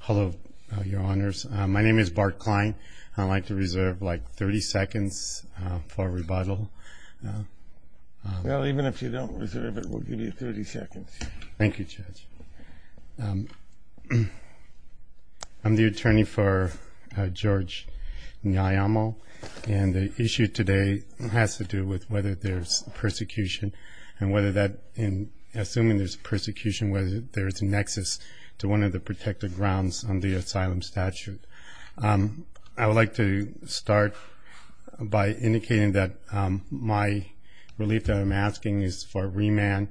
Hello, Your Honors. My name is Bart Klein. I'd like to reserve, like, 30 seconds for a rebuttal. Well, even if you don't reserve it, we'll give you 30 seconds. Thank you, Judge. I'm the attorney for George Nyamu, and the issue today has to do with whether there's persecution, and whether that, assuming there's persecution, whether there's a nexus to one of the protected grounds under the asylum statute. I would like to start by indicating that my relief that I'm asking is for remand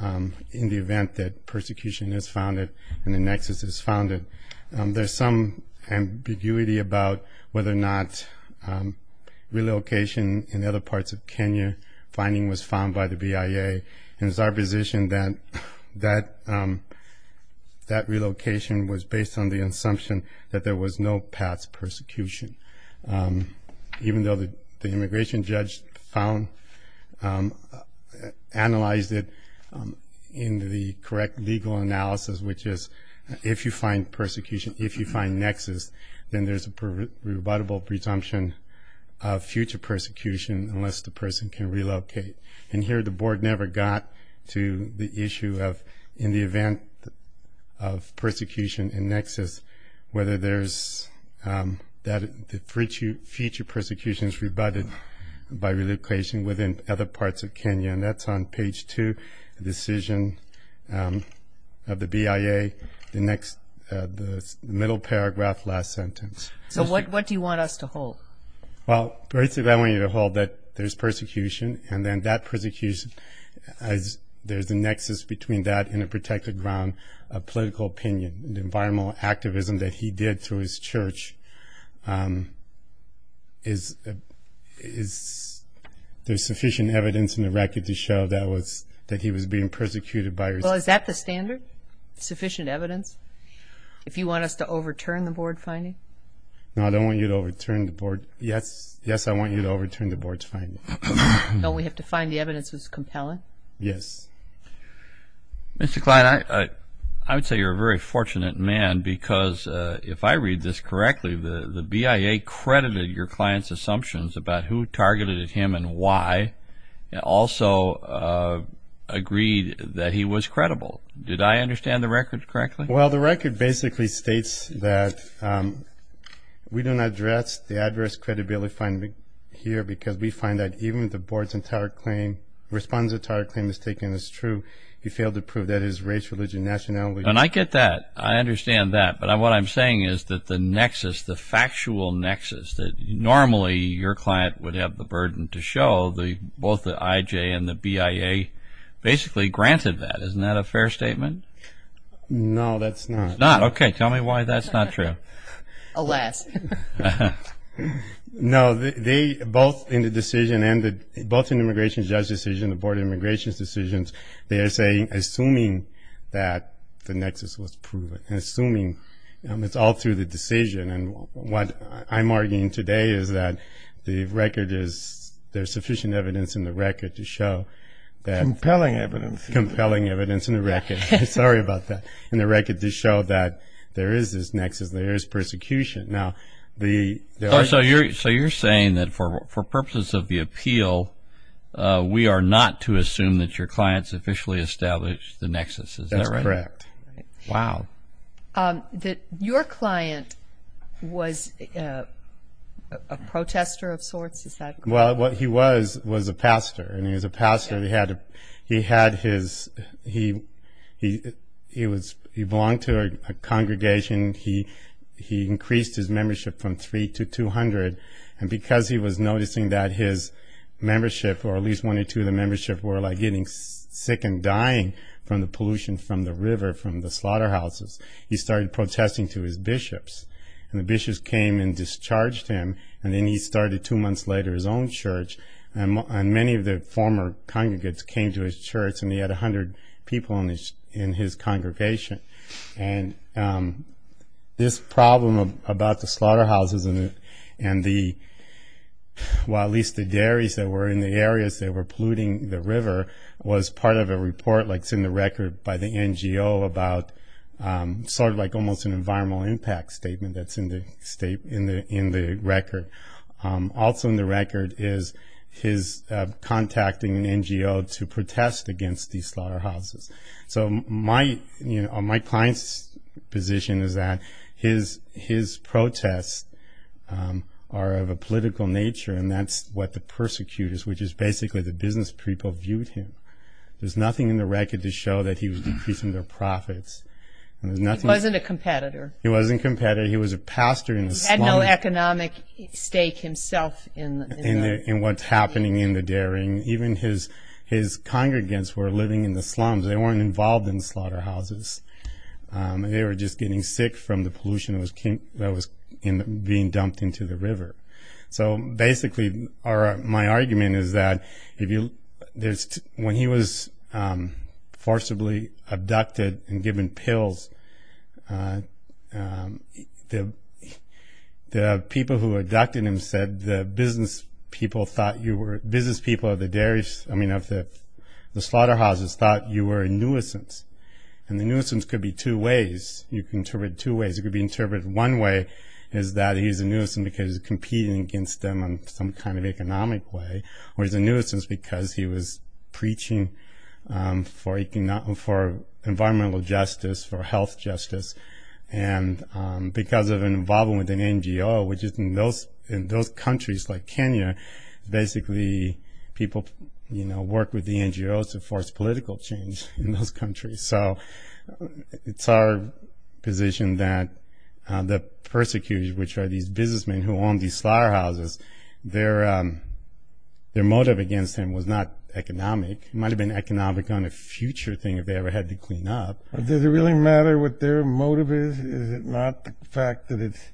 in the event that persecution is founded and the nexus is founded. There's some ambiguity about whether or not relocation in other parts of Kenya finding was found by the BIA, and it's our position that that relocation was based on the assumption that there was no past persecution, even though the immigration judge analyzed it in the correct legal analysis, which is if you find persecution, if you find nexus, then there's a rebuttable presumption of future persecution unless the person can relocate. And here the board never got to the issue of, in the event of persecution and nexus, whether there's that future persecution is rebutted by relocation within other parts of Kenya, and that's on page two, the decision of the BIA, the middle paragraph, last sentence. So what do you want us to hold? Well, first of all, I want you to hold that there's persecution, and then that persecution, there's a nexus between that and a protected ground of political opinion. The environmental activism that he did through his church, is there sufficient evidence in the record to show that he was being persecuted by his church? Well, is that the standard, sufficient evidence, if you want us to overturn the board finding? No, I don't want you to overturn the board. Yes, I want you to overturn the board's finding. Don't we have to find the evidence that's compelling? Yes. Mr. Klein, I would say you're a very fortunate man because, if I read this correctly, the BIA credited your client's assumptions about who targeted him and why, and also agreed that he was credible. Did I understand the record correctly? Well, the record basically states that we don't address the adverse credibility finding here because we find that even with the board's entire claim, respondent's entire claim is taken as true, he failed to prove that his race, religion, nationality… And I get that. I understand that. But what I'm saying is that the nexus, the factual nexus, that normally your client would have the burden to show, both the IJ and the BIA basically granted that. Isn't that a fair statement? No, that's not. It's not? Okay, tell me why that's not true. Alas. No, both in the decision, both in the immigration judge's decision, the board of immigration's decision, they are saying, assuming that the nexus was proven, assuming it's all through the decision. And what I'm arguing today is that the record is, there's sufficient evidence in the record to show that… Compelling evidence. Compelling evidence in the record, sorry about that, in the record to show that there is this nexus, there is persecution. So you're saying that for purpose of the appeal, we are not to assume that your client's officially established the nexus, is that right? That's correct. Wow. That your client was a protester of sorts, is that correct? Well, what he was, was a pastor. And he was a pastor and he had his, he belonged to a congregation. He increased his membership from three to two hundred. And because he was noticing that his membership, or at least one or two of the membership were like getting sick and dying from the pollution from the river, from the slaughterhouses, he started protesting to his bishops. And the bishops came and discharged him. And then he started two months later his own church. And many of the former congregants came to his church and he had a hundred people in his congregation. And this problem about the slaughterhouses and the, well at least the dairies that were in the areas that were polluting the river was part of a report like it's in the record by the NGO about sort of like almost an environmental impact statement that's in the record. Also in the record is his contacting an NGO to protest against these slaughterhouses. So my client's position is that his protests are of a political nature and that's what the persecutors, which is basically the business people, viewed him. There's nothing in the record to show that he was decreasing their profits. He wasn't a competitor. He wasn't a competitor. He was a pastor in the slums. He had no economic stake himself in the. In what's happening in the dairy. Even his congregants were living in the slums. They weren't involved in the slaughterhouses. They were just getting sick from the pollution that was being dumped into the river. So basically my argument is that when he was forcibly abducted and given pills, the people who abducted him said the business people thought you were, business people of the dairy, I mean of the slaughterhouses, thought you were a nuisance. And the nuisance could be two ways. You can interpret it two ways. It could be interpreted one way is that he's a nuisance because he's competing against them on some kind of economic way or he's a nuisance because he was preaching for environmental justice, for health justice. And because of involvement with an NGO, which in those countries like Kenya, basically people work with the NGOs to force political change in those countries. So it's our position that the persecutors, which are these businessmen who own these slaughterhouses, their motive against him was not economic. It might have been economic on a future thing if they ever had to clean up. Does it really matter what their motive is? Is it not the fact that it's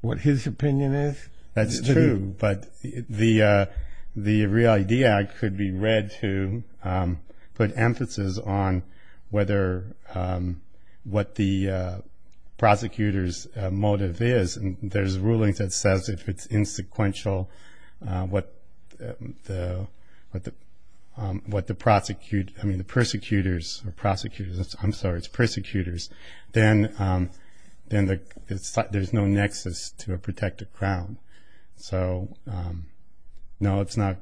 what his opinion is? That's true. But the real idea could be read to put emphasis on what the prosecutor's motive is. And there's rulings that says if it's insequential, what the prosecutors, I'm sorry, it's persecutors, then there's no nexus to a protected crown. So, no, it's not.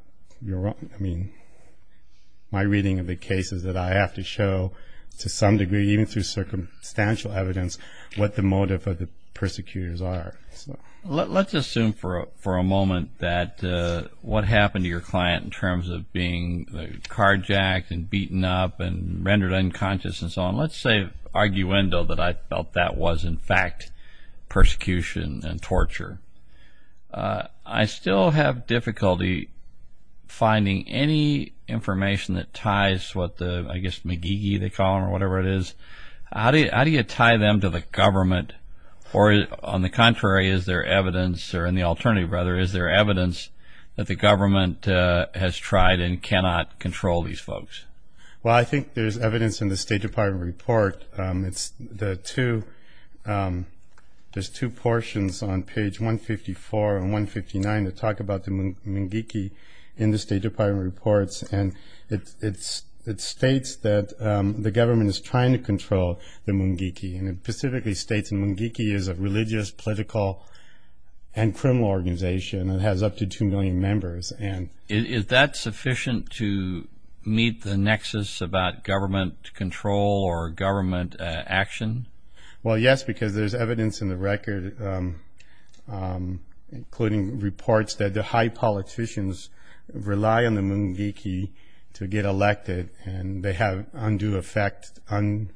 My reading of the case is that I have to show to some degree, even through circumstantial evidence, what the motive of the persecutors are. Let's assume for a moment that what happened to your client in terms of being carjacked and beaten up and rendered unconscious and so on, let's say arguendo that I felt that was in fact persecution and torture. I still have difficulty finding any information that ties what the, I guess, mungiki they call them or whatever it is. How do you tie them to the government? Or on the contrary, is there evidence, or in the alternative, rather, is there evidence that the government has tried and cannot control these folks? Well, I think there's evidence in the State Department report. There's two portions on page 154 and 159 that talk about the mungiki in the State Department reports. And it states that the government is trying to control the mungiki. And it specifically states that mungiki is a religious, political, and criminal organization and has up to two million members. Is that sufficient to meet the nexus about government control or government action? Well, yes, because there's evidence in the record, including reports that the high politicians rely on the mungiki to get elected, and they have undue effect, undue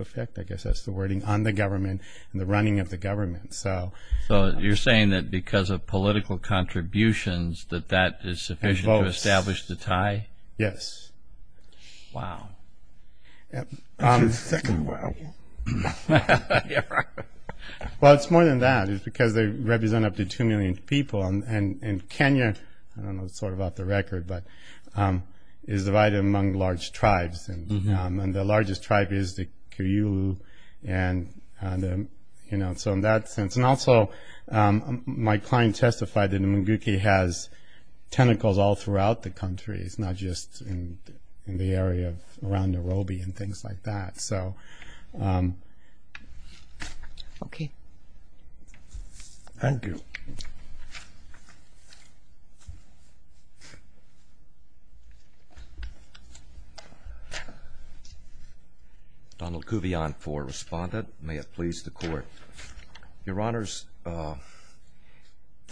effect, I guess that's the wording, on the government and the running of the government. So you're saying that because of political contributions, that that is sufficient to establish the tie? Yes. Wow. That's the second one. Well, it's more than that. It's because they represent up to two million people. And Kenya, I don't know, sort of off the record, but is divided among large tribes. And the largest tribe is the Kiriulu. And also my client testified that the mungiki has tentacles all throughout the country. It's not just in the area around Nairobi and things like that. Okay. Thank you. Donald Kuvion, for Respondent. May it please the Court. Your Honors, the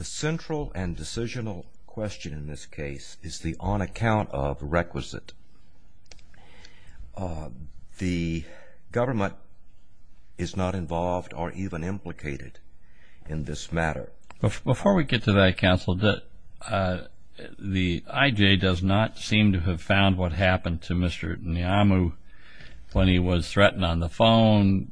central and decisional question in this case is the on-account of requisite. The government is not involved or even implicated in this matter. Before we get to that, Counsel, the IJ does not seem to have found what happened to Mr. Nyamu when he was threatened on the phone,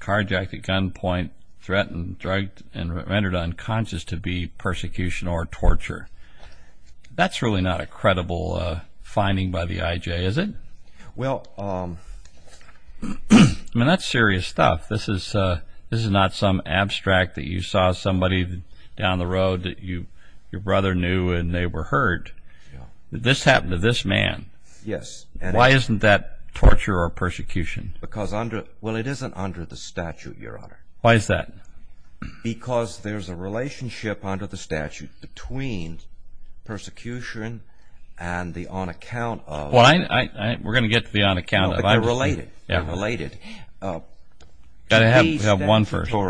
carjacked at gunpoint, threatened, drugged, and rendered unconscious to be persecution or torture. That's really not a credible finding by the IJ, is it? Well... I mean, that's serious stuff. This is not some abstract that you saw somebody down the road that your brother knew and they were hurt. This happened to this man. Yes. Why isn't that torture or persecution? Well, it isn't under the statute, Your Honor. Why is that? Because there's a relationship under the statute between persecution and the on-account of. We're going to get to the on-account of. They're related. You've got to have one first. And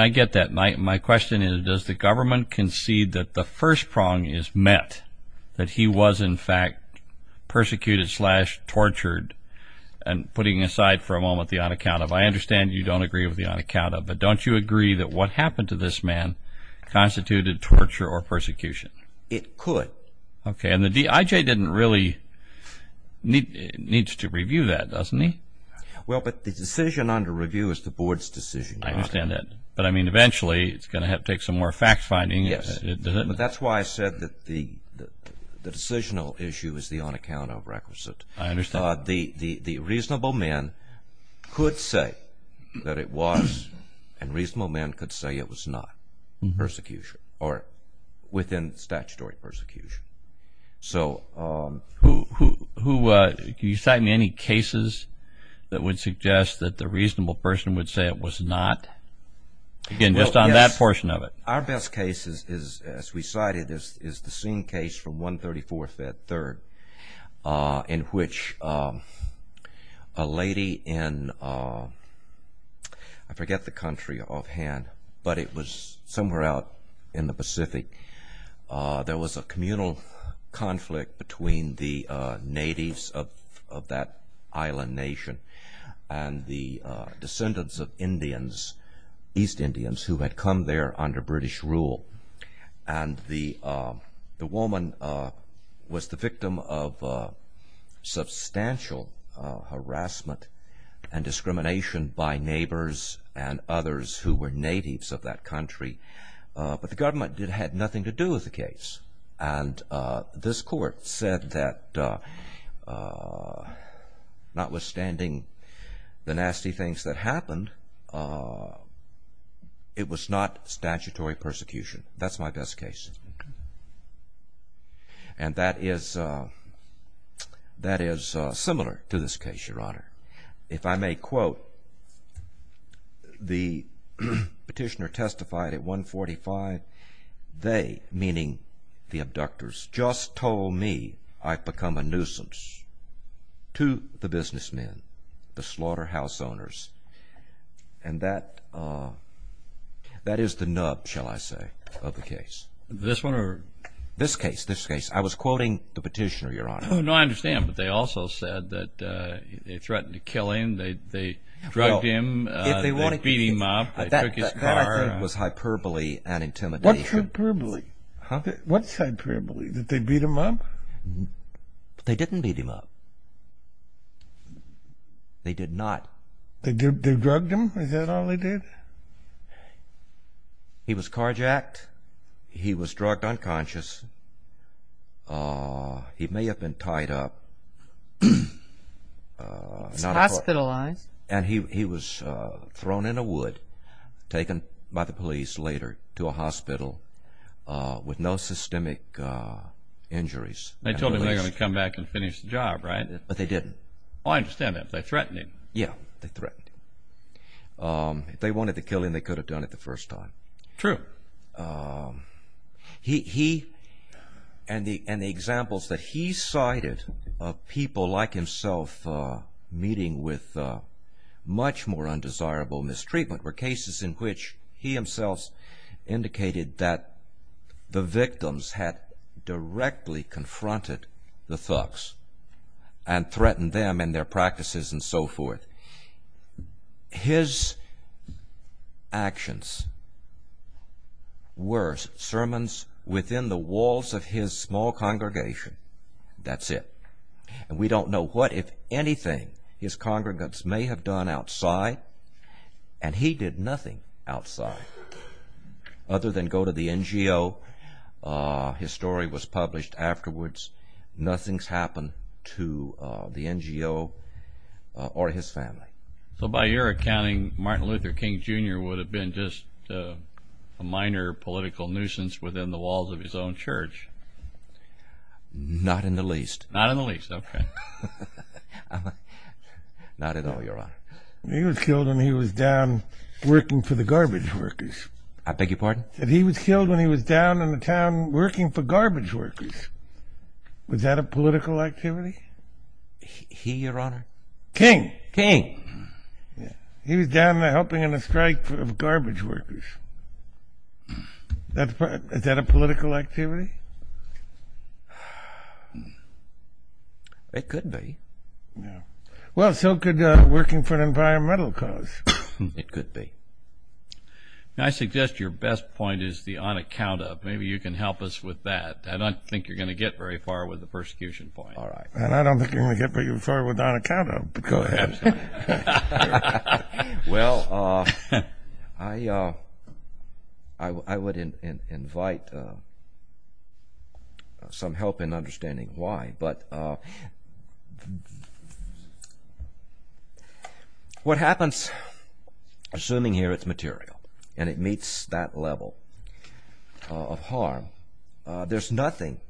I get that. My question is, does the government concede that the first prong is met, that he was, in fact, persecuted-slash-tortured? And putting aside for a moment the on-account of, I understand you don't agree with the on-account of, but don't you agree that what happened to this man constituted torture or persecution? It could. Okay. And the IJ didn't really need to review that, doesn't he? Well, but the decision under review is the Board's decision, Your Honor. I understand that. But, I mean, eventually it's going to have to take some more fact-finding. Yes. But that's why I said that the decisional issue is the on-account of requisite. I understand. The reasonable man could say that it was, and reasonable man could say it was not persecution or within statutory persecution. So who- Can you cite me any cases that would suggest that the reasonable person would say it was not? Again, just on that portion of it. Our best case is, as we cited, is the same case from 134th and 3rd, in which a lady in, I forget the country offhand, but it was somewhere out in the Pacific. There was a communal conflict between the natives of that island nation and the descendants of Indians, East Indians, who had come there under British rule. And the woman was the victim of substantial harassment and discrimination by neighbors and others who were natives of that country. But the government had nothing to do with the case. And this court said that, notwithstanding the nasty things that happened, it was not statutory persecution. That's my best case. And that is similar to this case, Your Honor. If I may quote, the petitioner testified at 145, they, meaning the abductors, just told me I've become a nuisance to the businessmen, the slaughterhouse owners. And that is the nub, shall I say, of the case. This one or? This case, this case. I was quoting the petitioner, Your Honor. No, I understand. But they also said that they threatened to kill him. They drugged him. They beat him up. They took his car. That, I think, was hyperbole and intimidation. What's hyperbole? Huh? What's hyperbole? That they beat him up? They didn't beat him up. They did not. They drugged him? Is that all they did? He was carjacked. He was drugged unconscious. He may have been tied up. He was hospitalized. And he was thrown in a wood, taken by the police later to a hospital with no systemic injuries. They told him they were going to come back and finish the job, right? But they didn't. Oh, I understand that. They threatened him. Yeah, they threatened him. If they wanted to kill him, they could have done it the first time. True. He, and the examples that he cited of people like himself meeting with much more undesirable mistreatment were cases in which he himself indicated that the victims had directly confronted the thugs and threatened them and their practices and so forth. His actions were sermons within the walls of his small congregation. That's it. And we don't know what, if anything, his congregants may have done outside. And he did nothing outside other than go to the NGO. His story was published afterwards. Nothing's happened to the NGO or his family. So by your accounting, Martin Luther King, Jr. would have been just a minor political nuisance within the walls of his own church. Not in the least. Not in the least, okay. Not at all, Your Honor. He was killed when he was down working for the garbage workers. I beg your pardon? He was killed when he was down in the town working for garbage workers. Was that a political activity? He, Your Honor? King. King. He was down there helping in a strike of garbage workers. Is that a political activity? It could be. Well, so could working for an environmental cause. It could be. I suggest your best point is the on-account-of. Maybe you can help us with that. I don't think you're going to get very far with the persecution point. All right. And I don't think you're going to get very far with on-account-of. Go ahead. Well, I would invite some help in understanding why. But what happens, assuming here it's material and it meets that level of harm, there's nothing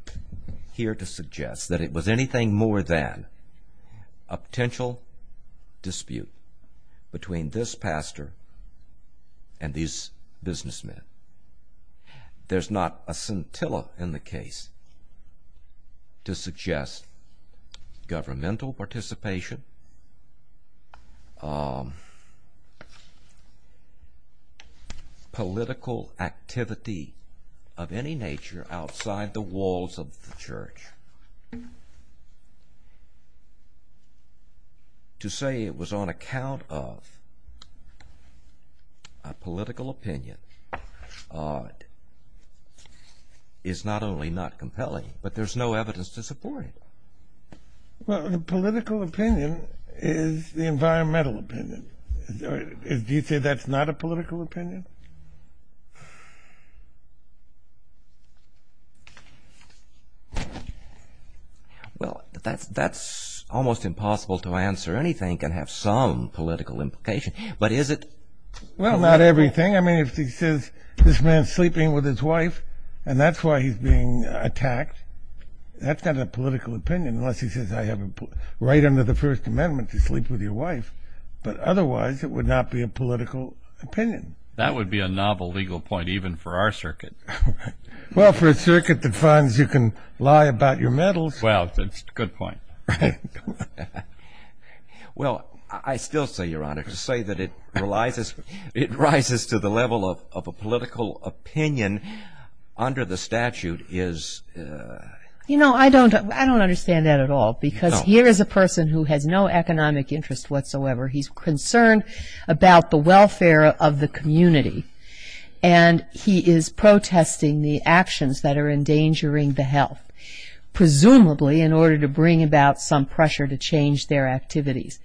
here to suggest that it was anything more than a potential dispute between this pastor and these businessmen. There's not a scintilla in the case to suggest governmental participation, political activity of any nature outside the walls of the church. To say it was on account of a political opinion is not only not compelling, but there's no evidence to support it. Well, the political opinion is the environmental opinion. Do you say that's not a political opinion? Well, that's almost impossible to answer. Anything can have some political implication. But is it? Well, not everything. I mean, if he says this man's sleeping with his wife and that's why he's being attacked, that's not a political opinion unless he says, I have a right under the First Amendment to sleep with your wife. But otherwise, it would not be a political opinion. That would be a novel legal point even for our circuit. Well, for a circuit that finds you can lie about your medals. Well, that's a good point. Well, I still say, Your Honor, to say that it rises to the level of a political opinion under the statute is... You know, I don't understand that at all because here is a person who has no economic interest whatsoever. He's concerned about the welfare of the community. And he is protesting the actions that are endangering the health, presumably in order to bring about some pressure to change their activities.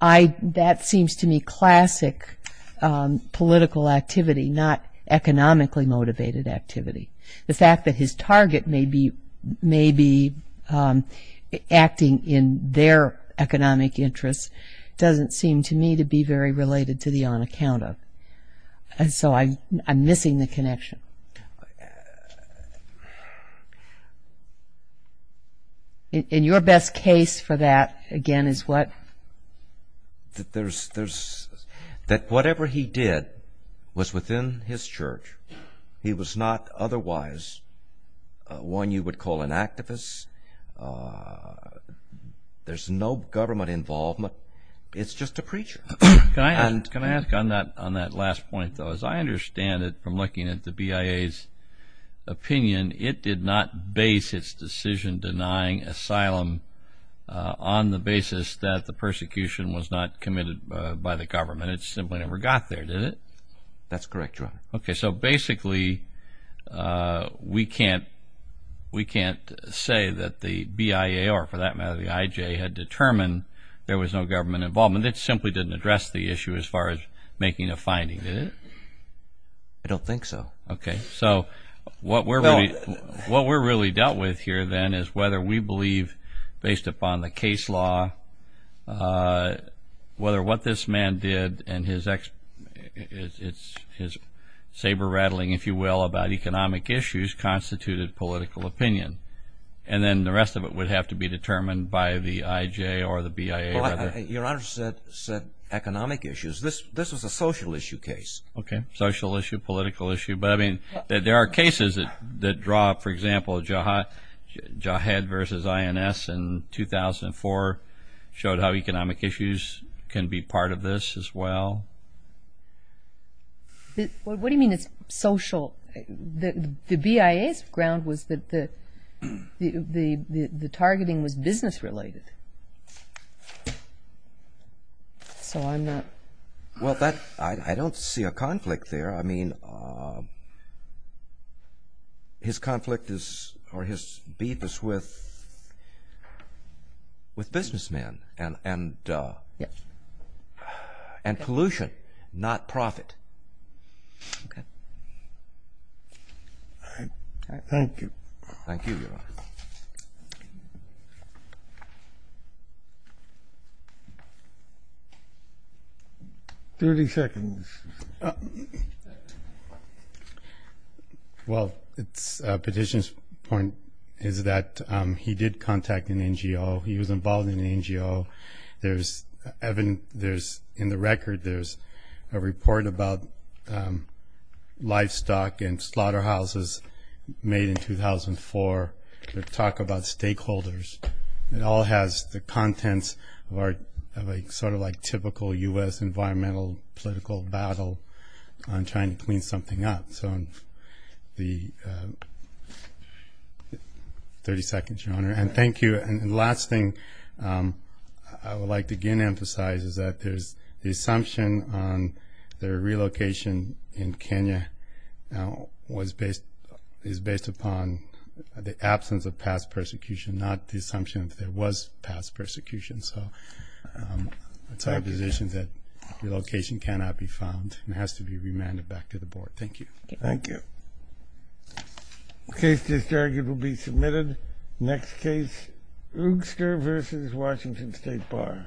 That seems to me classic political activity, not economically motivated activity. The fact that his target may be acting in their economic interest doesn't seem to me to be very related to the on account of. So I'm missing the connection. And your best case for that, again, is what? That whatever he did was within his church. He was not otherwise one you would call an activist. There's no government involvement. It's just a preacher. Can I ask on that last point, though? As I understand it from looking at the BIA's opinion, it did not base its decision denying asylum on the basis that the persecution was not committed by the government. It simply never got there, did it? That's correct, Your Honor. Okay, so basically we can't say that the BIA or, for that matter, the IJ had determined there was no government involvement. It simply didn't address the issue as far as making a finding, did it? I don't think so. Okay, so what we're really dealt with here then is whether we believe, based upon the case law, whether what this man did and his saber-rattling, if you will, about economic issues constituted political opinion. And then the rest of it would have to be determined by the IJ or the BIA. Your Honor said economic issues. This was a social issue case. Okay, social issue, political issue. But, I mean, there are cases that draw up. For example, Jahed v. INS in 2004 showed how economic issues can be part of this as well. What do you mean it's social? The BIA's ground was that the targeting was business-related. So I'm not – Well, I don't see a conflict there. I mean, his conflict is – or his beef is with businessmen and pollution, not profit. Okay. Thank you. Thank you, Your Honor. Thirty seconds. Well, Petitioner's point is that he did contact an NGO. He was involved in an NGO. In the record, there's a report about livestock and slaughterhouses made in 2004. There's talk about stakeholders. It all has the contents of a sort of like typical U.S. environmental political battle on trying to clean something up. So the – thirty seconds, Your Honor. And thank you. And the last thing I would like to again emphasize is that there's the assumption on their relocation in Kenya was based – is based upon the absence of past persecution, not the assumption that there was past persecution. So it's our position that relocation cannot be found and has to be remanded back to the board. Thank you. Thank you. The case disargued will be submitted. Next case, Oogster v. Washington State Bar.